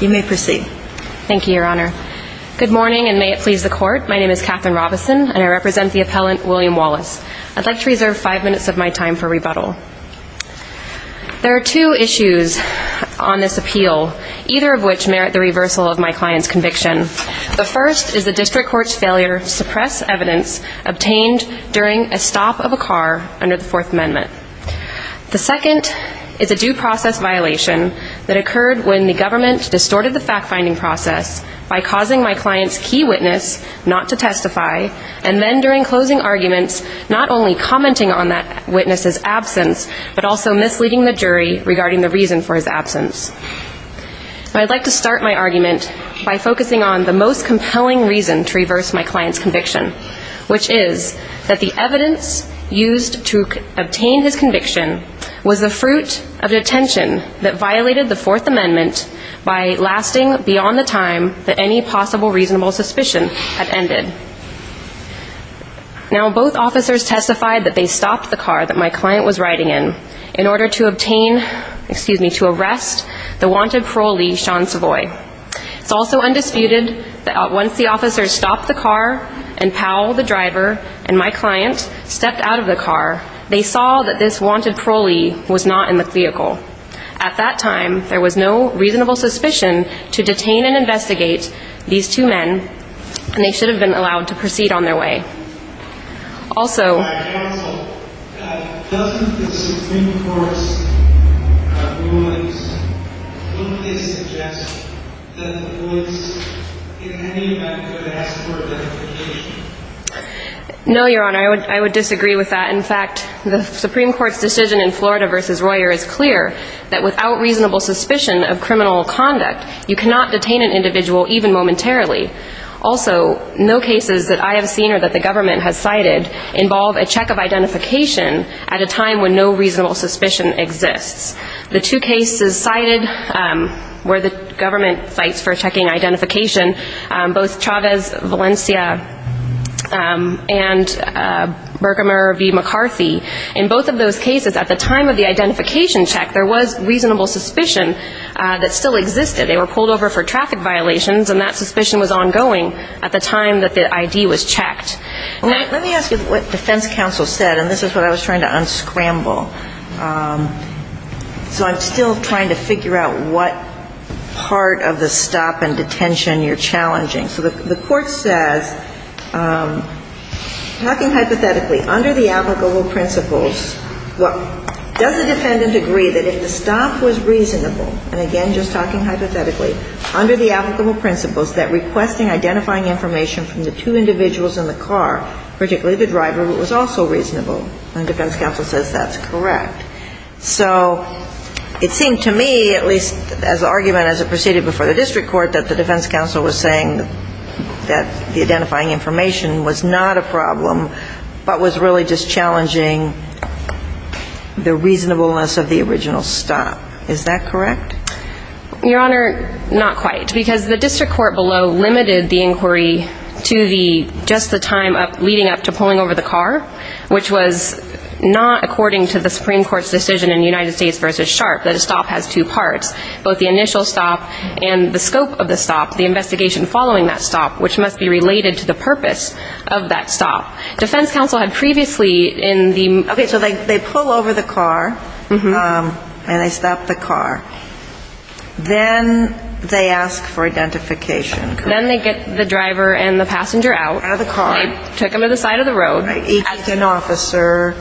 You may proceed. Thank you, Your Honor. Good morning, and may it please the Court. My name is Katherine Robison, and I represent the appellant William Wallace. I'd like to reserve five minutes of my time for rebuttal. There are two issues on this appeal, either of which merit the reversal of my client's conviction. The first is the District Court's failure to suppress evidence obtained during a stop of a car under the Fourth Amendment. The second is a due process violation that occurred when the government distorted the fact-finding process by causing my client's key witness not to testify, and then during closing arguments not only commenting on that witness's absence, but also misleading the jury regarding the reason for his absence. I'd like to start my argument by focusing on the most compelling reason to reverse my client's conviction, which is that the evidence used to obtain his conviction was the fruit of detention that violated the Fourth Amendment by lasting beyond the time that any possible reasonable suspicion had ended. Now, both officers testified that they stopped the car that my client was riding in in order to obtain, excuse me, to stop the car and Powell, the driver, and my client stepped out of the car. They saw that this wanted parolee was not in the vehicle. At that time, there was no reasonable suspicion to detain and investigate these two men, and they should have been allowed to proceed on their way. Also... No, Your Honor, I would disagree with that. In fact, the Supreme Court's decision in Florida v. Royer is clear that without reasonable suspicion of criminal conduct, you cannot detain an individual even momentarily. Also, no cases that I have seen or that the government has cited involve a check of identification at a time when no reasonable suspicion exists. The two cases cited were the government sites for checking identification, both Chavez Valencia and Bergammer v. McCarthy. In both of those cases, at the time of the identification check, there was reasonable suspicion that still existed. They were pulled over for traffic violations, and that suspicion was ongoing at the time that the ID was checked. Let me ask you what defense counsel said, and this is what I was trying to unscramble. So I'm still trying to figure out what part of the stop and detention you're challenging. So the court says, talking hypothetically, under the applicable principles, does the defendant agree that if the stop was reasonable, and again, just talking hypothetically, under the applicable principles, that requesting identifying information from the two individuals in the car, particularly the driver, was also reasonable. And defense counsel says that's correct. So it seemed to me, at least as an argument as it proceeded before the district court, that the defense counsel was saying that the identifying information was not a problem, but was really just challenging the reasonableness of the original stop. Is that correct? Your Honor, not quite. Because the district court below limited the inquiry to the just the time leading up to pulling over the car, which was not according to the Supreme Court's decision in United States v. Sharp that a stop has two parts, both the initial stop and the scope of the stop, the investigation following that stop, which must be related to the purpose of that stop. Defense counsel had previously in the Okay, so they pull over the car, and they stop the car. Then they ask for identification, correct? And then they get the driver and the passenger out. Out of the car. They took them to the side of the road. Each has an officer.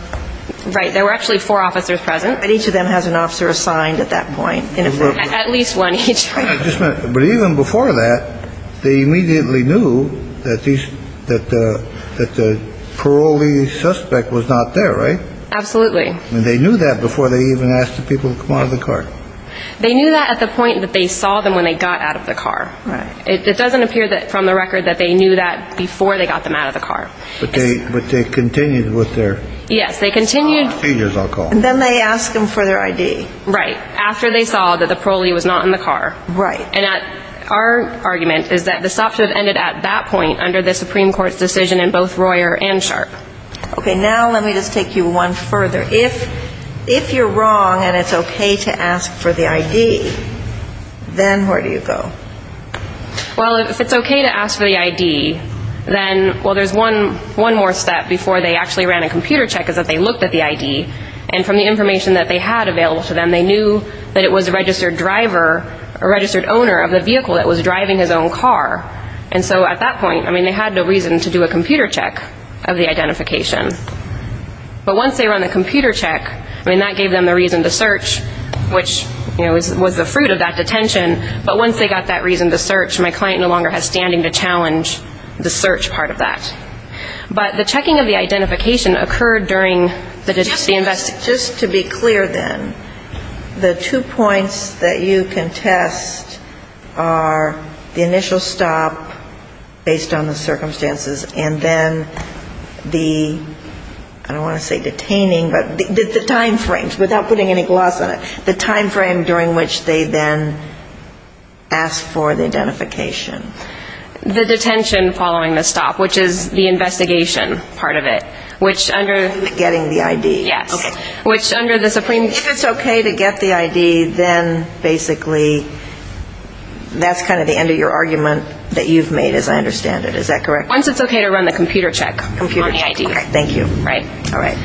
Right. There were actually four officers present. And each of them has an officer assigned at that point. At least one each. But even before that, they immediately knew that the parolee suspect was not there, right? Absolutely. And they knew that before they even asked the people to come out of the car? They knew that at the point that they saw them when they got out of the car. Right. It doesn't appear from the record that they knew that before they got them out of the car. But they continued with their procedures, I'll call it. Yes, they continued. And then they ask them for their ID. Right. After they saw that the parolee was not in the car. Right. And our argument is that the stop should have ended at that point under the Supreme Court's decision in both Royer and Sharp. Okay, now let me just take you one further. If you're wrong and it's okay to ask for the ID, then where do you go? Well, if it's okay to ask for the ID, then, well, there's one more step before they actually ran a computer check is that they looked at the ID. And from the information that they had available to them, they knew that it was a registered driver, a registered owner of the vehicle that was driving his own car. And so at that point, I mean, they had no reason to do a computer check of the identification. But once they run the computer check, I mean, that gave them the reason to search, you know, was the fruit of that detention. But once they got that reason to search, my client no longer has standing to challenge the search part of that. But the checking of the identification occurred during the investigation. Just to be clear, then, the two points that you can test are the initial stop based on the circumstances and then the, I don't want to say detaining, but the time frames, without putting any gloss on it, the time frame during which they then asked for the identification. The detention following the stop, which is the investigation part of it. Getting the ID. Yes. Okay. If it's okay to get the ID, then basically that's kind of the end of your argument that you've made, as I understand it, is that correct? Once it's okay to run the computer check on the ID. Okay. Thank you. Right. All right.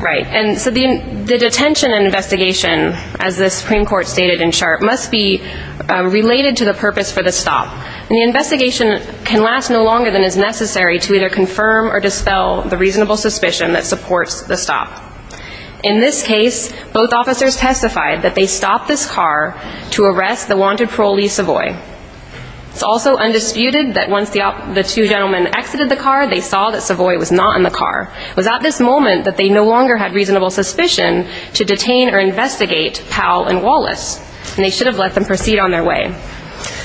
Right. And so the detention investigation, as the Supreme Court stated in Sharp, must be related to the purpose for the stop. And the investigation can last no longer than is necessary to either confirm or dispel the reasonable suspicion that supports the stop. In this case, both officers testified that they stopped this car to arrest the wanted parolee Savoy. It's also undisputed that once the two gentlemen exited the car, they saw that Savoy was not in the car. It was at this moment that they no longer had reasonable suspicion to detain or investigate Powell and Wallace. And they should have let them proceed on their way.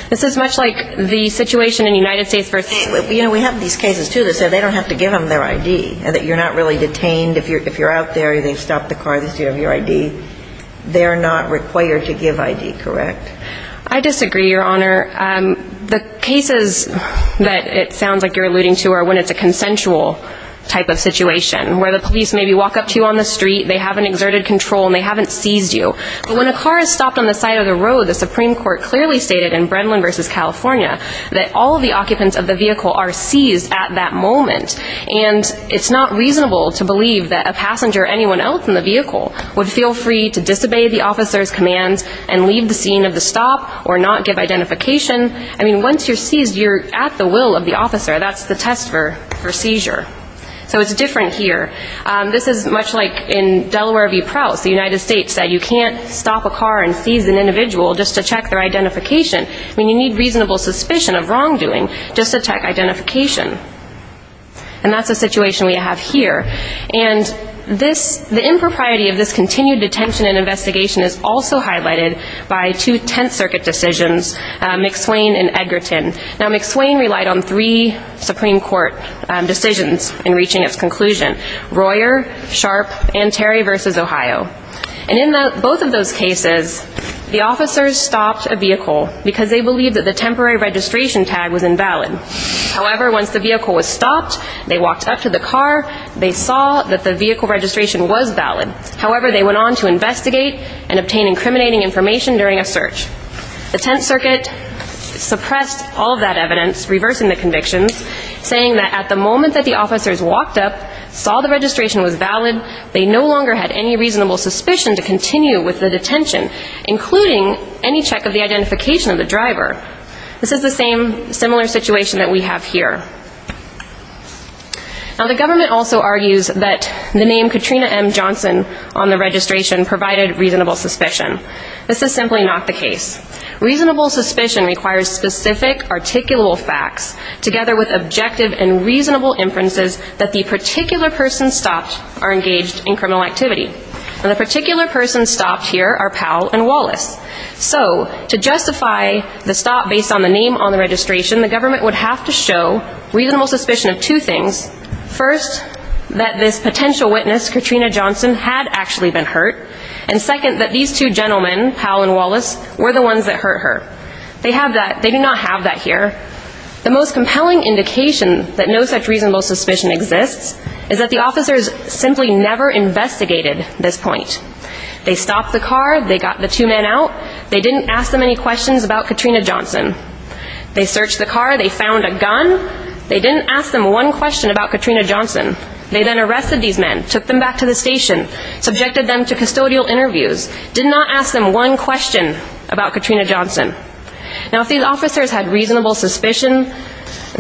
This is much like the situation in the United States. You know, we have these cases, too, that say they don't have to give them their ID, that you're not really detained if you're out there, they've stopped the car, they still have your ID. They're not required to give ID, correct? I disagree, Your Honor. The cases that it sounds like you're alluding to are when it's a consensual type of situation. Where the police maybe walk up to you on the street, they haven't exerted control and they haven't seized you. But when a car is stopped on the side of the road, the Supreme Court clearly stated in Brendlin v. California that all of the occupants of the vehicle are seized at that moment. And it's not reasonable to believe that a passenger or anyone else in the vehicle would feel free to disobey the officer's commands and leave the scene of the stop or not give identification. I mean, once you're seized, you're at the will of the officer. That's the test for seizure. So it's different here. This is much like in Delaware v. Prowse. The United States said you can't stop a car and seize an individual just to check their identification. I mean, you need reasonable suspicion of wrongdoing just to check identification. And that's the situation we have here. And the impropriety of this continued detention and investigation is also highlighted by two Tenth Circuit decisions, McSwain v. Edgerton. Now McSwain relied on three Supreme Court decisions in reaching its conclusion. Royer, Sharp, and Terry v. Ohio. And in both of those cases, the officers stopped a vehicle because they believed that the temporary registration tag was invalid. However, once the vehicle was stopped, they walked up to the car, they saw that the vehicle registration was valid. However, they went on to investigate and obtain incriminating information during a search. The Tenth Circuit suppressed all of that evidence, reversing the convictions, saying that at the moment that the officers walked up, saw the registration was valid, they no longer had any reasonable suspicion to continue with the detention, including any check of the identification of the driver. This is the same, similar situation that we have here. Now the government also argues that the name Katrina M. Johnson on the registration provided reasonable suspicion. This is simply not the case. Reasonable suspicion requires specific, articulable facts, together with objective and reasonable inferences that the particular person stopped are engaged in criminal activity. And the particular persons stopped here are Powell and Wallace. So, to justify the stop based on the name on the registration, the government would have to show reasonable suspicion of two things. First, that this potential witness, Katrina Johnson, had actually been hurt. And second, that these two gentlemen, Powell and Wallace, were the ones that hurt her. They do not have that here. The most compelling indication that no such reasonable suspicion exists is that the officers simply never investigated this point. They stopped the car, they got the two men out, they didn't ask them any questions about Katrina Johnson. They searched the car, they found a gun, they didn't ask them one question about Katrina Johnson. They then arrested these men, took them back to the station, subjected them to custodial interviews, did not ask them one question about Katrina Johnson. Now if these officers had reasonable suspicion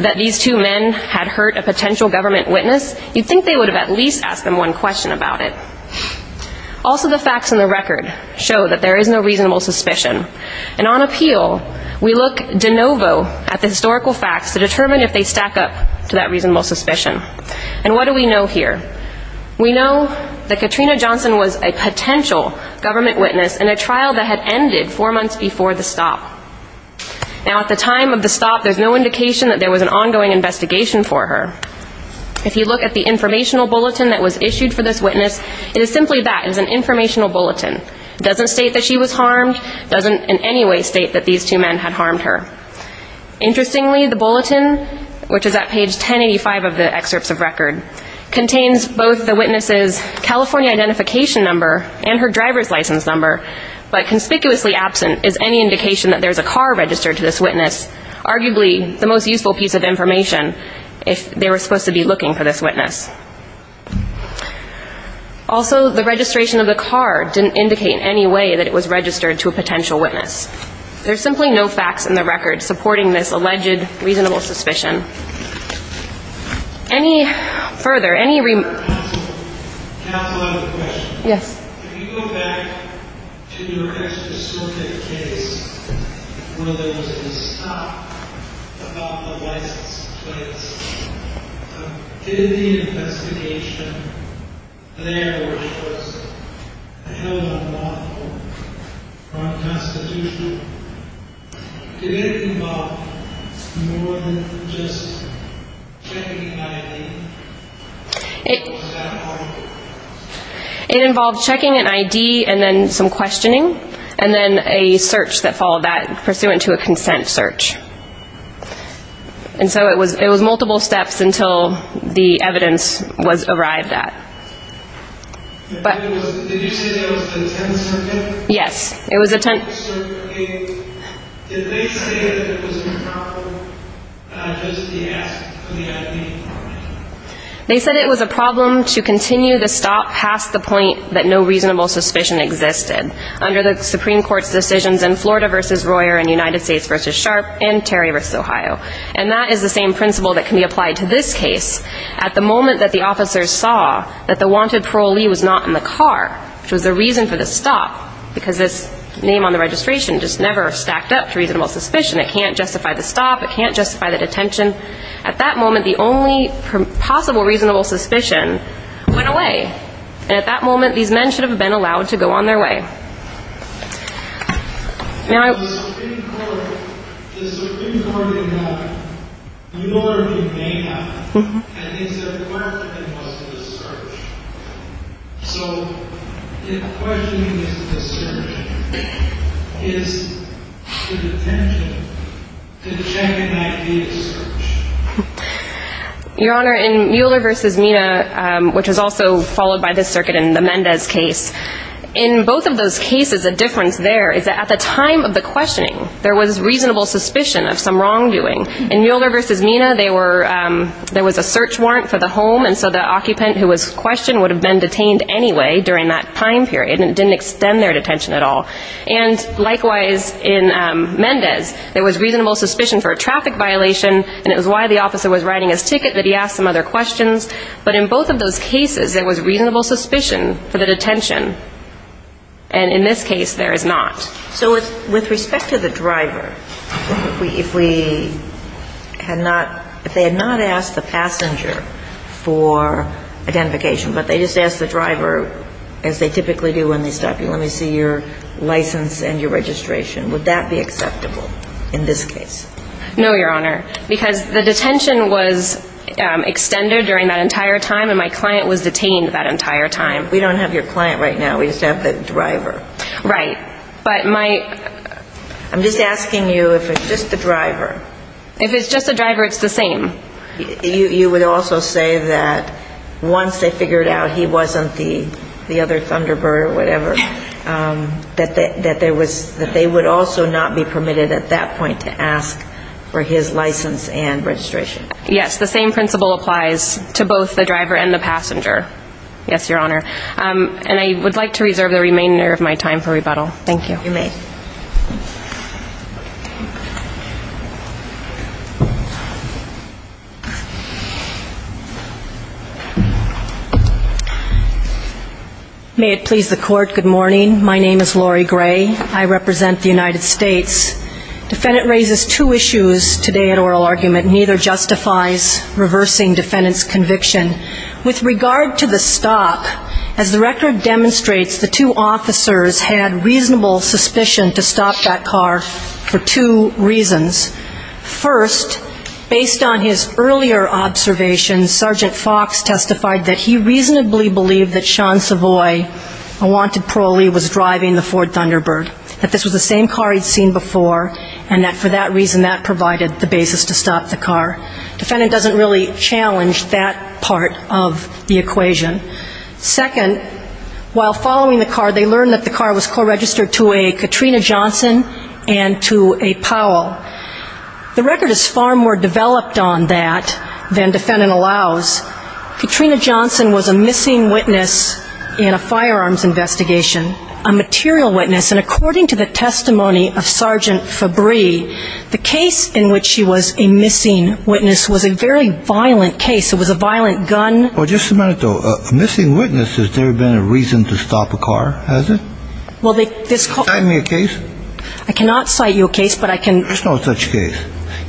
that these two men had hurt a potential government witness, you'd think they would have at least asked them one question about it. Also the facts in the record show that there is no reasonable suspicion. And on appeal, we look de novo at the historical facts to determine if they stack up to that reasonable suspicion. And what do we know here? We know that Katrina Johnson was a potential government witness in a trial that had ended four months before the stop. Now at the time of the stop, there's no indication that there was an ongoing investigation for her. If you look at the informational bulletin that was issued for this witness, it is simply that. It is an informational bulletin. It doesn't state that she was harmed, doesn't in any way state that these two men had harmed her. Interestingly, the bulletin, which is at page 1085 of the excerpts of record, contains both the witness's California identification number and her driver's license number, but conspicuously absent is any indication that there's a car registered to this witness, arguably the most useful piece of information if they were supposed to be looking for this witness. Also, the registration of the car didn't indicate in any way that it was registered to a potential witness. There's simply no facts in the record supporting this alleged reasonable suspicion. Any further? I have another question. If you go back to your extracurricular case where there was a stop about the license plates, did the investigation there, which was a held-up model from Constitutional, did it involve more than just checking ID? It involved checking an ID and then some questioning and then a search that followed that pursuant to a consent search. And so it was multiple steps until the evidence was arrived at. Did you say there was a tent circuit? Yes. Did they say that there was a problem just to ask for the ID? They said it was a problem to continue the stop past the point that no reasonable suspicion existed under the Supreme Court's decisions in Florida v. Royer and United States v. Sharpe and Terry vs. Ohio. And that is the same principle that can be applied to this case at the moment that the officers saw that the wanted parolee was not in the car, which was the reason for the stop because this name on the registration just never stacked up to reasonable suspicion. It can't justify the stop, it can't justify the detention. At that moment, the only possible reasonable suspicion went away. And at that moment, these men should have been allowed to go on their way. The Supreme Court did not ignore the data and they said the question was the search. So the question is is the detention the check and ID search? Your Honor, in Mueller v. Mina which was also followed by this circuit in the Mendez case, in both of those cases, the difference there is that at the time of the questioning, there was reasonable suspicion of some wrongdoing. In Mueller v. Mina, there was a search warrant for the home and so the occupant who was questioned would have been detained anyway during that time period because they didn't extend their detention at all. And likewise in Mendez, there was reasonable suspicion for a traffic violation and it was why the officer was writing his ticket that he asked some other questions. But in both of those cases there was reasonable suspicion for the detention and in this case there is not. So with respect to the driver, if they had not asked the passenger for identification but they just asked the driver, as they typically do when they stop you let me see your license and your registration would that be acceptable in this case? No, Your Honor, because the detention was extended during that entire time and my client was detained that entire time. We don't have your client right now, we just have the driver. Right. I'm just asking you if it's just the driver. If it's just the driver, it's the same. You would also say that once they figured out he wasn't the other Thunderbird or whatever, that they would also not be permitted at that point to ask for his license and registration. Yes, the same principle applies to both the driver and the passenger. Yes, Your Honor. And I would like to reserve the remainder of my time for rebuttal. Thank you. May it please the court, good morning, my name is Laurie Gray I represent the United States. Defendant raises two issues today at oral argument neither justifies reversing defendant's conviction. With regard to the stop, as the record demonstrates, the two officers had reasonable suspicion to stop that car for two reasons. First, based on his earlier observations Sergeant Fox testified that he reasonably believed that Sean Savoy, a wanted parolee was driving the Ford Thunderbird. That this was the same car he'd seen before and that for that reason that provided the basis to stop the car. Defendant doesn't really challenge that part of the equation. Second, while following the car they learned that the car was co-registered to a The record is far more developed on that than defendant allows. Katrina Johnson was a missing witness in a firearms investigation, a material witness and according to the testimony of Sergeant Fabry the case in which she was a missing witness was a very violent case, it was a violent gun. Well just a minute though, a missing witness, has there been a reason to stop a car? Has it? Will they cite me a case? I cannot cite you a case but I can... There's no such case.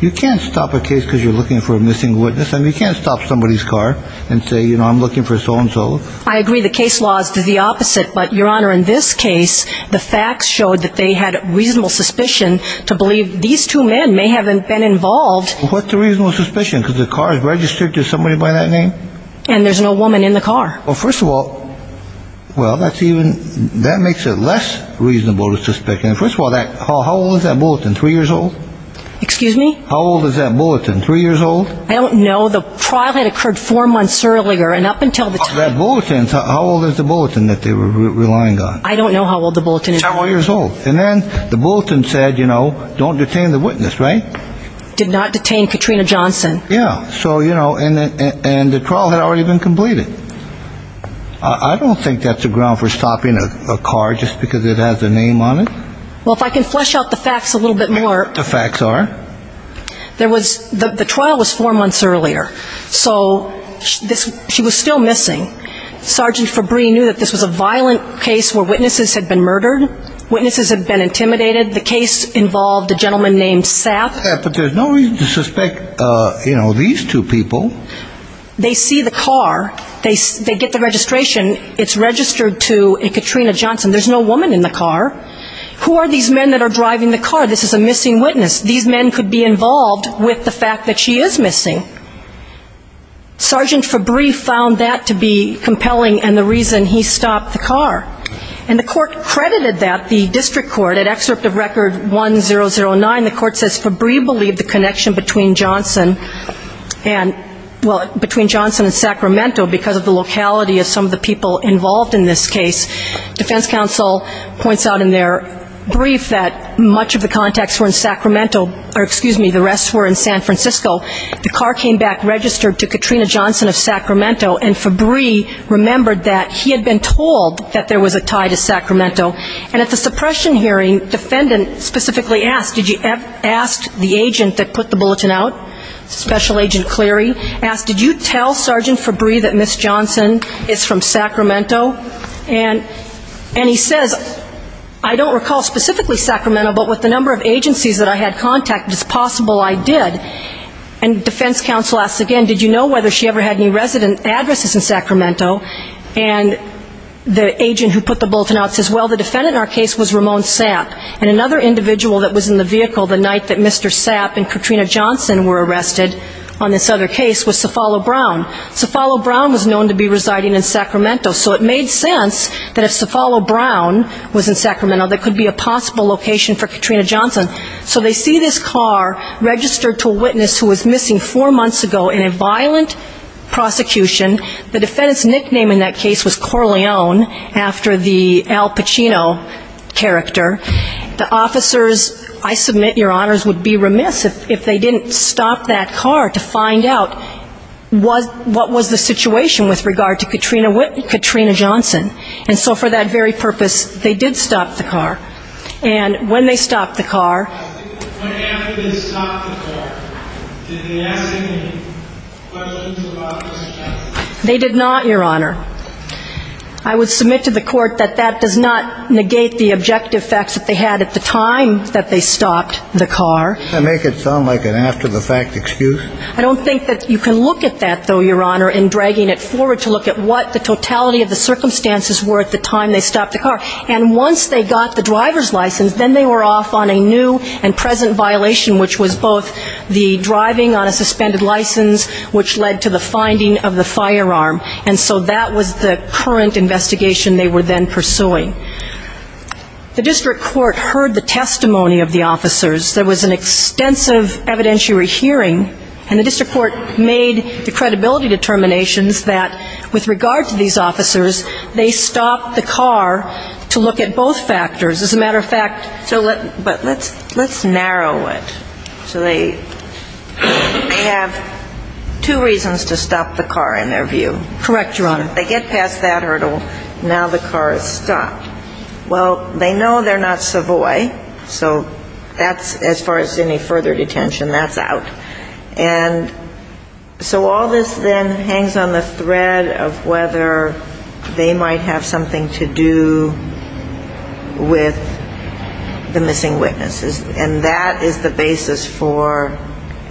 You can't stop a case because you're looking for a missing witness and you can't stop somebody's car and say, you know, I'm looking for so and so. I agree the case law is the opposite but Your Honor in this case the facts showed that they had reasonable suspicion to believe these two men may have been involved What's the reasonable suspicion? Because the car is registered to somebody by that name? And there's no woman in the car. Well first of all, well that's even that makes it less reasonable to suspect and first of all, how old is that bulletin, three years old? Excuse me? How old is that bulletin, three years old? I don't know, the trial had occurred four months earlier and up until the time That bulletin, how old is the bulletin that they were relying on? I don't know how old the bulletin is. Several years old. And then the bulletin said, you know, don't detain the witness, right? Did not detain Katrina Johnson. Yeah, so you know, and the trial had already been completed. I don't think that's a ground for stopping a car just because it has a name on it. Well if I can flesh out the facts a little bit more The facts are? The trial was four months earlier, so she was still missing Sergeant Fabry knew that this was a violent case where witnesses had been murdered, witnesses had been intimidated the case involved a gentleman named Sapp But there's no reason to suspect these two people They see the car, they get the registration It's registered to Katrina Johnson There's no woman in the car Who are these men that are driving the car? This is a missing witness These men could be involved with the fact that she is missing Sergeant Fabry found that to be compelling and the reason he stopped the car And the court credited that, the district court And at excerpt of record 1009, the court says Fabry believed the connection between Johnson Between Johnson and Sacramento Because of the locality of some of the people involved in this case Defense counsel points out in their brief That much of the contacts were in Sacramento Or excuse me, the rest were in San Francisco The car came back registered to Katrina Johnson of Sacramento And Fabry remembered that he had been told That there was a tie to Sacramento And at the suppression hearing, defendant specifically asked Did you ask the agent that put the bulletin out Special agent Cleary, did you tell Sergeant Fabry That Ms. Johnson is from Sacramento And he says, I don't recall specifically Sacramento But with the number of agencies that I had contact It's possible I did And defense counsel asks again, did you know if she ever had any resident And again, the address is in Sacramento And the agent who put the bulletin out says Well, the defendant in our case was Ramon Sapp And another individual that was in the vehicle The night that Mr. Sapp and Katrina Johnson were arrested On this other case was Cefalo Brown Cefalo Brown was known to be residing in Sacramento So it made sense that if Cefalo Brown was in Sacramento There could be a possible location for Katrina Johnson So they see this car registered to a witness Who was missing four months ago in a violent prosecution The defendant's nickname in that case was Corleone After the Al Pacino character The officers, I submit, your honors Would be remiss if they didn't stop that car To find out what was the situation With regard to Katrina Johnson And so for that very purpose, they did stop the car And when they stopped the car They did not, your honor I would submit to the court that that does not Negate the objective facts that they had at the time That they stopped the car I don't think that you can look at that though, your honor In dragging it forward to look at what the totality Of the circumstances were at the time they stopped the car And once they got the driver's license Then they were off on a new and present violation Which was both the driving on a suspended license Which led to the finding of the firearm And so that was the current investigation They were then pursuing The district court heard the testimony of the officers There was an extensive evidentiary hearing And the district court made the credibility determinations That with regard to these officers They stopped the car to look at both factors As a matter of fact But let's narrow it So they have two reasons to stop the car in their view Correct, your honor They get past that hurdle, now the car is stopped Well, they know they're not Savoy So as far as any further detention, that's out And so all this then hangs on the thread Of whether they might have something to do With the missing witnesses And that is the basis for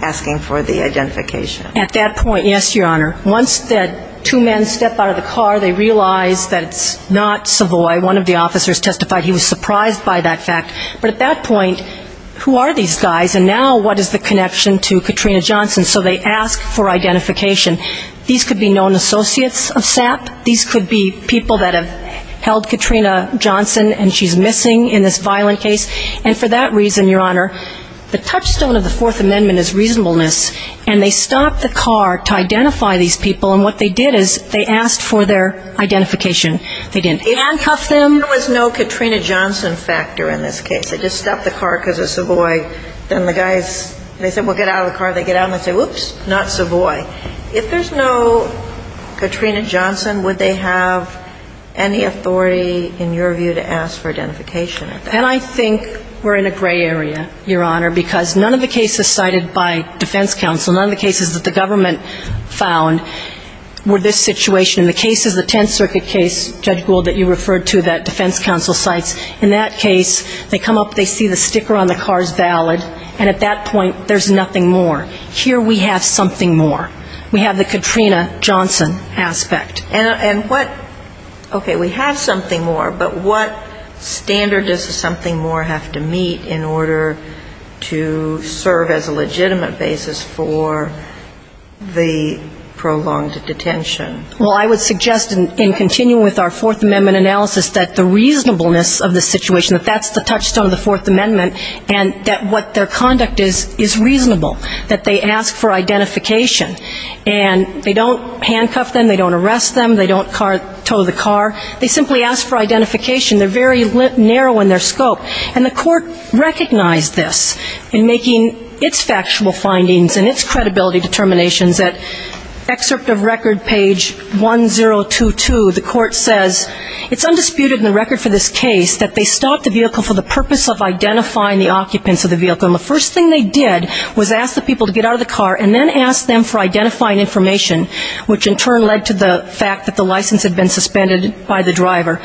asking for the identification At that point, yes, your honor Once the two men step out of the car They realize that it's not Savoy One of the officers testified he was surprised by that fact But at that point, who are these guys And now what is the connection to Katrina Johnson So they ask for identification These could be known associates of SAP These could be people that have held Katrina Johnson And she's missing in this violent case And for that reason, your honor The touchstone of the Fourth Amendment is reasonableness And they stopped the car to identify these people And what they did is they asked for their identification They didn't handcuff them There was no Katrina Johnson factor in this case They just stopped the car because it's Savoy Then the guys, they said we'll get out of the car They get out and say oops, not Savoy If there's no Katrina Johnson, would they have any authority In your view to ask for identification And I think we're in a gray area, your honor Because none of the cases cited by defense counsel None of the cases that the government found Were this situation In the cases, the Tenth Circuit case, Judge Gould That you referred to that defense counsel cites In that case, they come up, they see the sticker on the car is valid And at that point, there's nothing more Here we have something more We have the Katrina Johnson aspect Okay, we have something more But what standard does something more have to meet In order to serve as a legitimate basis For the prolonged detention Well, I would suggest In continuing with our Fourth Amendment analysis That the reasonableness of the situation That that's the touchstone of the Fourth Amendment And that what their conduct is, is reasonable That they ask for identification And they don't handcuff them, they don't arrest them They don't tow the car They simply ask for identification They're very narrow in their scope And the court recognized this In making its factual findings And its credibility determinations At excerpt of record, page 1022 The court says, it's undisputed in the record for this case That they stopped the vehicle For the purpose of identifying the occupants of the vehicle And the first thing they did Was ask the people to get out of the car And then ask them for identifying information Which in turn led to the fact That the license had been suspended by the driver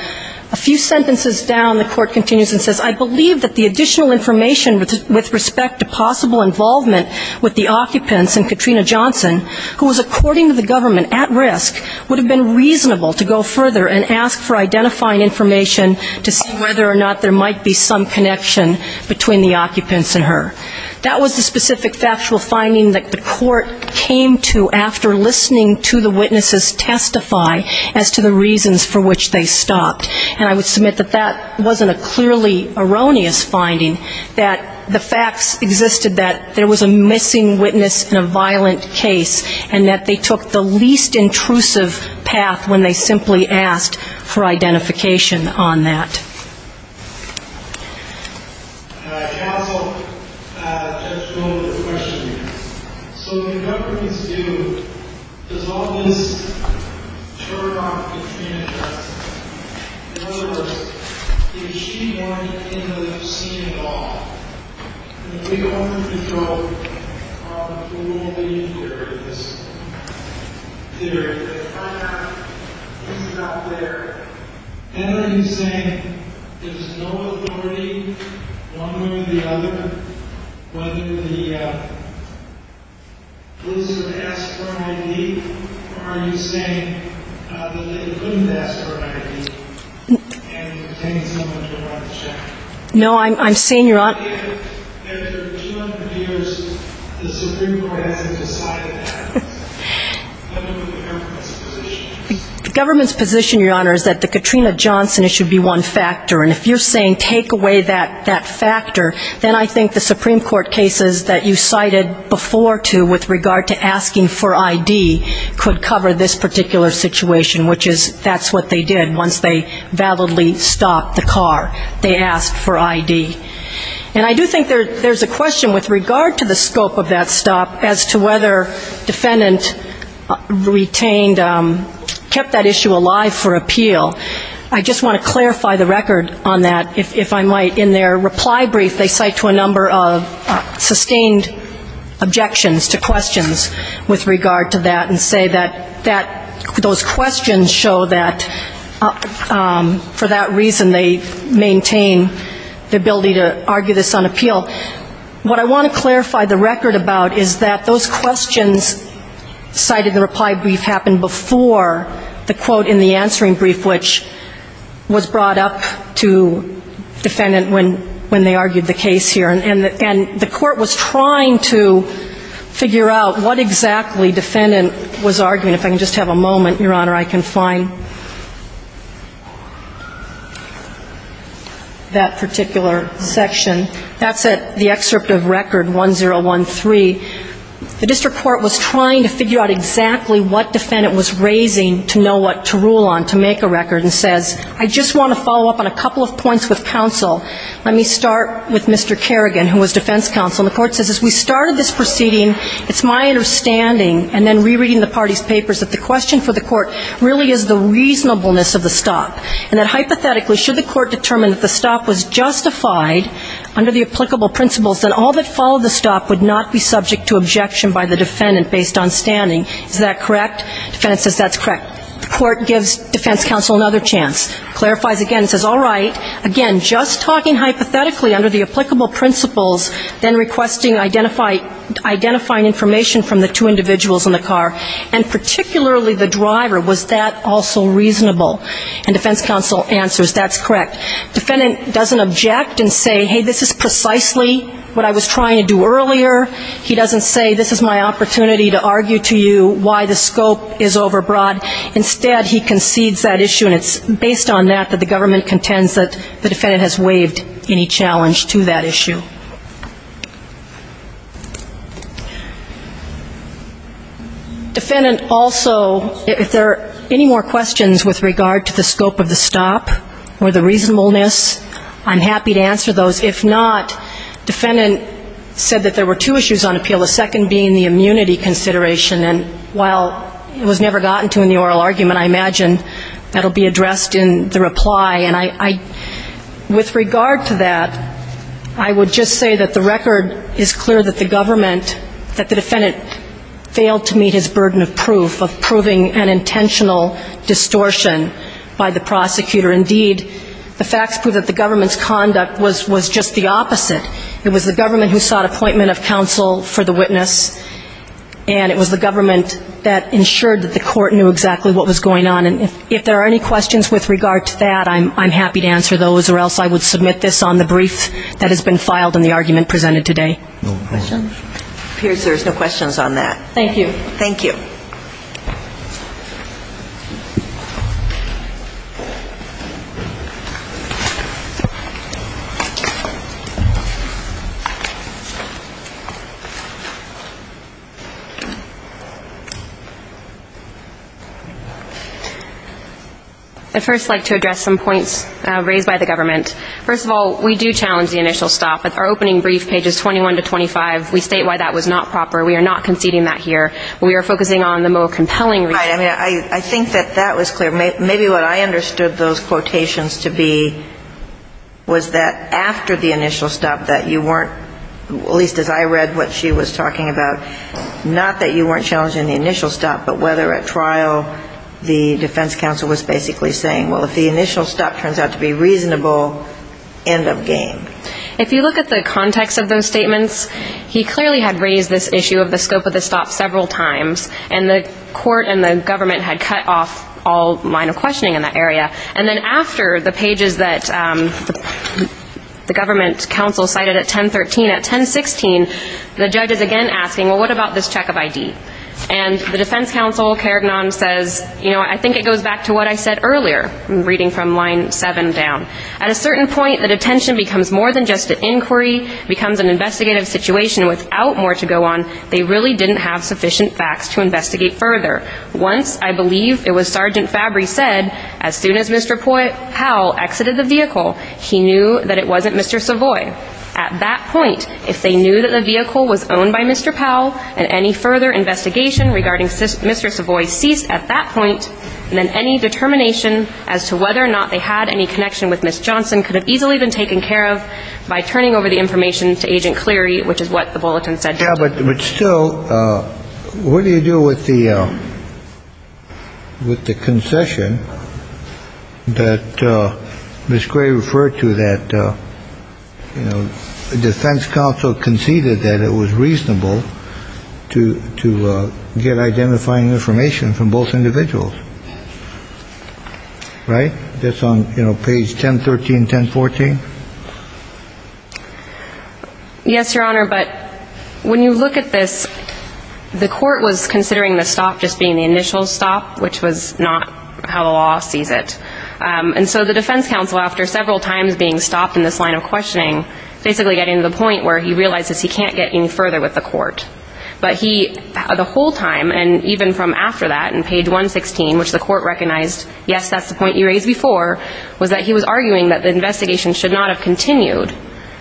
A few sentences down, the court continues And says, I believe that the additional information With respect to possible involvement With the occupants and Katrina Johnson Who was according to the government at risk Would have been reasonable to go further And ask for identifying information To see whether or not there might be some connection Between the occupants and her That was the specific factual finding That the court came to After listening to the witnesses testify As to the reasons for which they stopped And I would submit that that wasn't a clearly erroneous finding That the facts existed That there was a missing witness in a violent case And that they took the least intrusive path When they simply asked for identification on that Counsel Judge Miller, I have a question So what the government needs to do Does all this turn off Katrina Johnson? In other words Is she going into the scene at all? And if we go under control Who will be in charge of this? If I have things out there Then are you saying There's no authority one way or the other Whether the police would ask for an ID Or are you saying That they couldn't ask for an ID And pretend someone turned around to check No, I'm saying After 200 years The Supreme Court hasn't decided that What is the government's position? The government's position, Your Honor Is that the Katrina Johnson issue would be one factor And if you're saying take away that factor Then I think the Supreme Court cases That you cited before too With regard to asking for ID Could cover this particular situation Which is that's what they did Once they validly stopped the car They asked for ID And I do think there's a question With regard to the scope of that stop As to whether defendant retained Kept that issue alive for appeal I just want to clarify the record on that If I might, in their reply brief They cite to a number of sustained objections To questions with regard to that And say that those questions show that For that reason they maintain The ability to argue this on appeal What I want to clarify the record about Is that those questions cited in the reply brief Happened before the quote in the answering brief Which was brought up to defendant When they argued the case here And the court was trying to Figure out what exactly defendant was arguing If I can just have a moment, your honor I can find That particular section That's the excerpt of record 1013 The district court was trying to figure out Exactly what defendant was raising To know what to rule on, to make a record I just want to follow up On a couple of points with counsel Let me start with Mr. Kerrigan As we started this proceeding It's my understanding That the question for the court Really is the reasonableness of the stop And hypothetically should the court Determine that the stop was justified Under the applicable principles Then all that followed the stop Would not be subject to objection By the defendant based on standing Is that correct? Defendant says that's correct The court gives defense counsel Another chance Clarifies again Just talking hypothetically Under the applicable principles Identifying information From the two individuals in the car And particularly the driver Was that also reasonable Defendant doesn't object And say this is precisely What I was trying to do earlier He doesn't say this is my opportunity To argue to you why the scope is overbroad Instead he concedes that issue And it's based on that That the government contends That the defendant has waived Any challenge to that issue Defendant also If there are any more questions With regard to the scope of the stop Or the reasonableness I'm happy to answer those If not defendant said there were two issues The second being the immunity consideration And while it was never gotten to In the oral argument I imagine that will be addressed in the reply With regard to that I would just say that the record Is clear that the defendant Failed to meet his burden of proof Of proving an intentional distortion By the prosecutor Indeed the facts prove that the government's conduct Was just the opposite It was the government who sought Appointment of counsel for the witness And it was the government that ensured That the court knew exactly what was going on And if there are any questions with regard to that I'm happy to answer those Or else I would submit this on the brief That has been filed in the argument presented today It appears there's no questions on that Thank you I'd first like to address some points Raised by the government First of all we do challenge the initial stop Our opening brief pages 21 to 25 We state why that was not proper We are not conceding that here We are focusing on the more compelling reasons I think that was clear Maybe what I understood those quotations to be Was that after the initial stop That you weren't, at least as I read what she was talking about Not that you weren't challenging the initial stop But whether at trial the defense counsel was basically saying Well if the initial stop turns out to be reasonable End of game If you look at the context of those statements He clearly had raised this issue of the scope of the stop several times And the court and the government had cut off All line of questioning in that area And then after the pages that the government counsel cited At 10.13, at 10.16 The judge is again asking what about this check of ID And the defense counsel says I think it goes back to what I said earlier Reading from line 7 down At a certain point the detention becomes more than just an inquiry Becomes an investigative situation without more to go on They really didn't have sufficient facts to investigate further Once I believe it was Sergeant Fabry said As soon as Mr. Powell exited the vehicle He knew that it wasn't Mr. Savoy At that point if they knew that the vehicle was owned by Mr. Powell And any further investigation regarding Mr. Savoy ceased At that point Then any determination as to whether or not they had any connection with Ms. Johnson Could have easily been taken care of by turning over the information to Agent Cleary Which is what the bulletin said But still what do you do with the With the concession That Ms. Gray referred to That the defense counsel conceded That it was reasonable To get identifying information from both individuals Right That's on page 10.13, 10.14 Yes your honor But when you look at this The court was considering the stop just being the initial stop Which was not how the law sees it And so the defense counsel after several times being stopped In this line of questioning Basically getting to the point where he realizes he can't get any further with the court But he the whole time and even from after that In page 116 which the court recognized Yes that's the point you raised before Was that he was arguing that the investigation should not have continued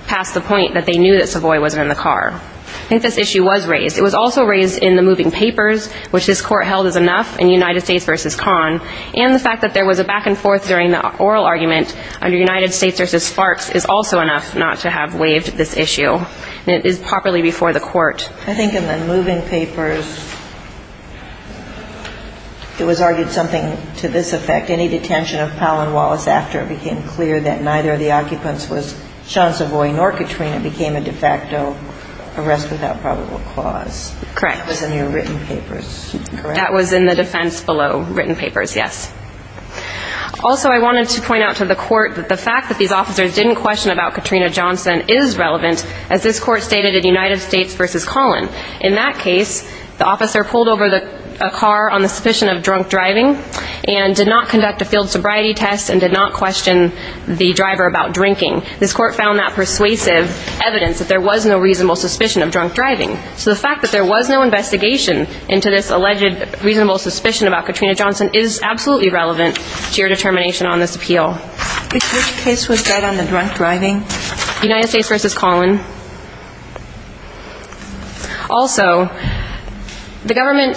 Past the point that they knew that Savoy wasn't in the car I think this issue was raised It was also raised in the moving papers which this court held as enough In United States vs. Con And the fact that there was a back and forth during the oral argument Under United States vs. Sparks is also enough not to have waived this issue And it is properly before the court I think in the moving papers It was argued something to this effect Any detention of Powell and Wallace after it became clear That neither of the occupants was Sean Savoy nor Katrina Became a de facto arrest without probable cause Correct That was in the defense below written papers yes Also I wanted to point out to the court That the fact that these officers didn't question about Katrina Johnson is relevant As this court stated in United States vs. Con In that case the officer pulled over a car on the suspicion of drunk driving And did not conduct a field sobriety test And did not question the driver about drinking This court found that persuasive evidence That there was no reasonable suspicion of drunk driving So the fact that there was no investigation into this alleged reasonable suspicion About Katrina Johnson is absolutely relevant To your determination on this appeal Which case was that on the drunk driving United States vs. Con Also The government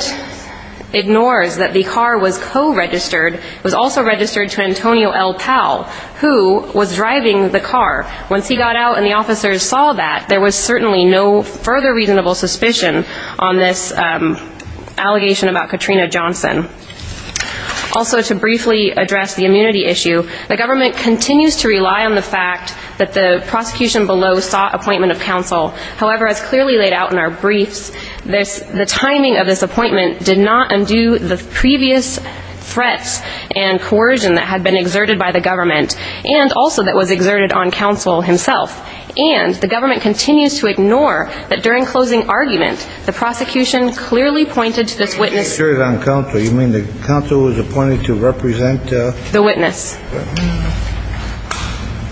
ignores that the car was co-registered Was also registered to Antonio L. Powell Who was driving the car Once he got out and the officers saw that There was certainly no further reasonable suspicion On this allegation about Katrina Johnson Also to briefly address the immunity issue The government continues to rely on the fact That the prosecution below sought appointment of counsel However as clearly laid out in our briefs The timing of this appointment did not undo the previous Threats and coercion that had been exerted by the government And also that was exerted on counsel himself And the government continues to ignore That during closing argument the prosecution clearly pointed To this witness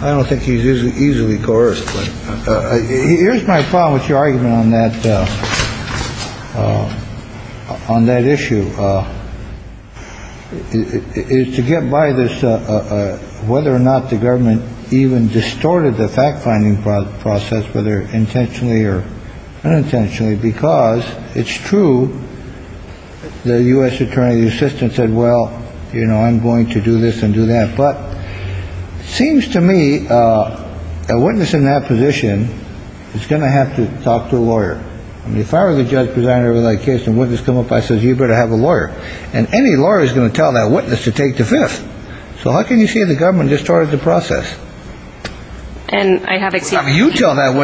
I don't think he's easily coerced Here's my problem with your argument on that On that issue Is to get by this Whether or not the government Even distorted the fact finding process Whether intentionally or unintentionally Because it's true The U.S. Attorney's assistant said well I'm going to do this and do that Seems to me a witness in that position Is going to have to talk to a lawyer If I were the judge presiding over that case and a witness came up I said you better have a lawyer And any lawyer is going to tell that witness to take to fifth So how can you say the government distorted the process You tell that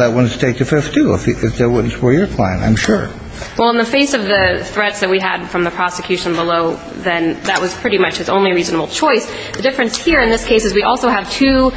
witness to take to fifth too If that witness were your client I'm sure Well in the face of the threats that we had from the prosecution below Then that was pretty much his only reasonable choice The difference here in this case is we also have two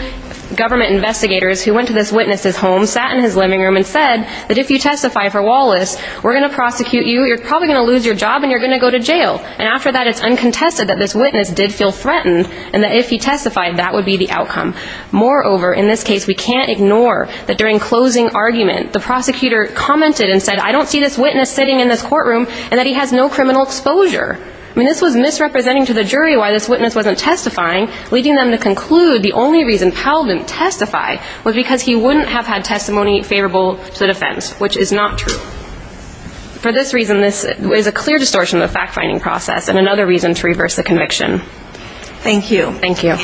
Government investigators who went to this witness' home Sat in his living room and said that if you testify for Wallace We're going to prosecute you, you're probably going to lose your job And you're going to go to jail And after that it's uncontested that this witness did feel threatened And that if he testified that would be the outcome Moreover in this case we can't ignore that during closing argument The prosecutor commented and said I don't see this witness sitting in this courtroom And that he has no criminal exposure I mean this was misrepresenting to the jury why this witness wasn't testifying Leading them to conclude the only reason Powell didn't testify Was because he wouldn't have had testimony favorable to the defense Which is not true For this reason this is a clear distortion of the fact finding process And another reason to reverse the conviction Thank you Thank you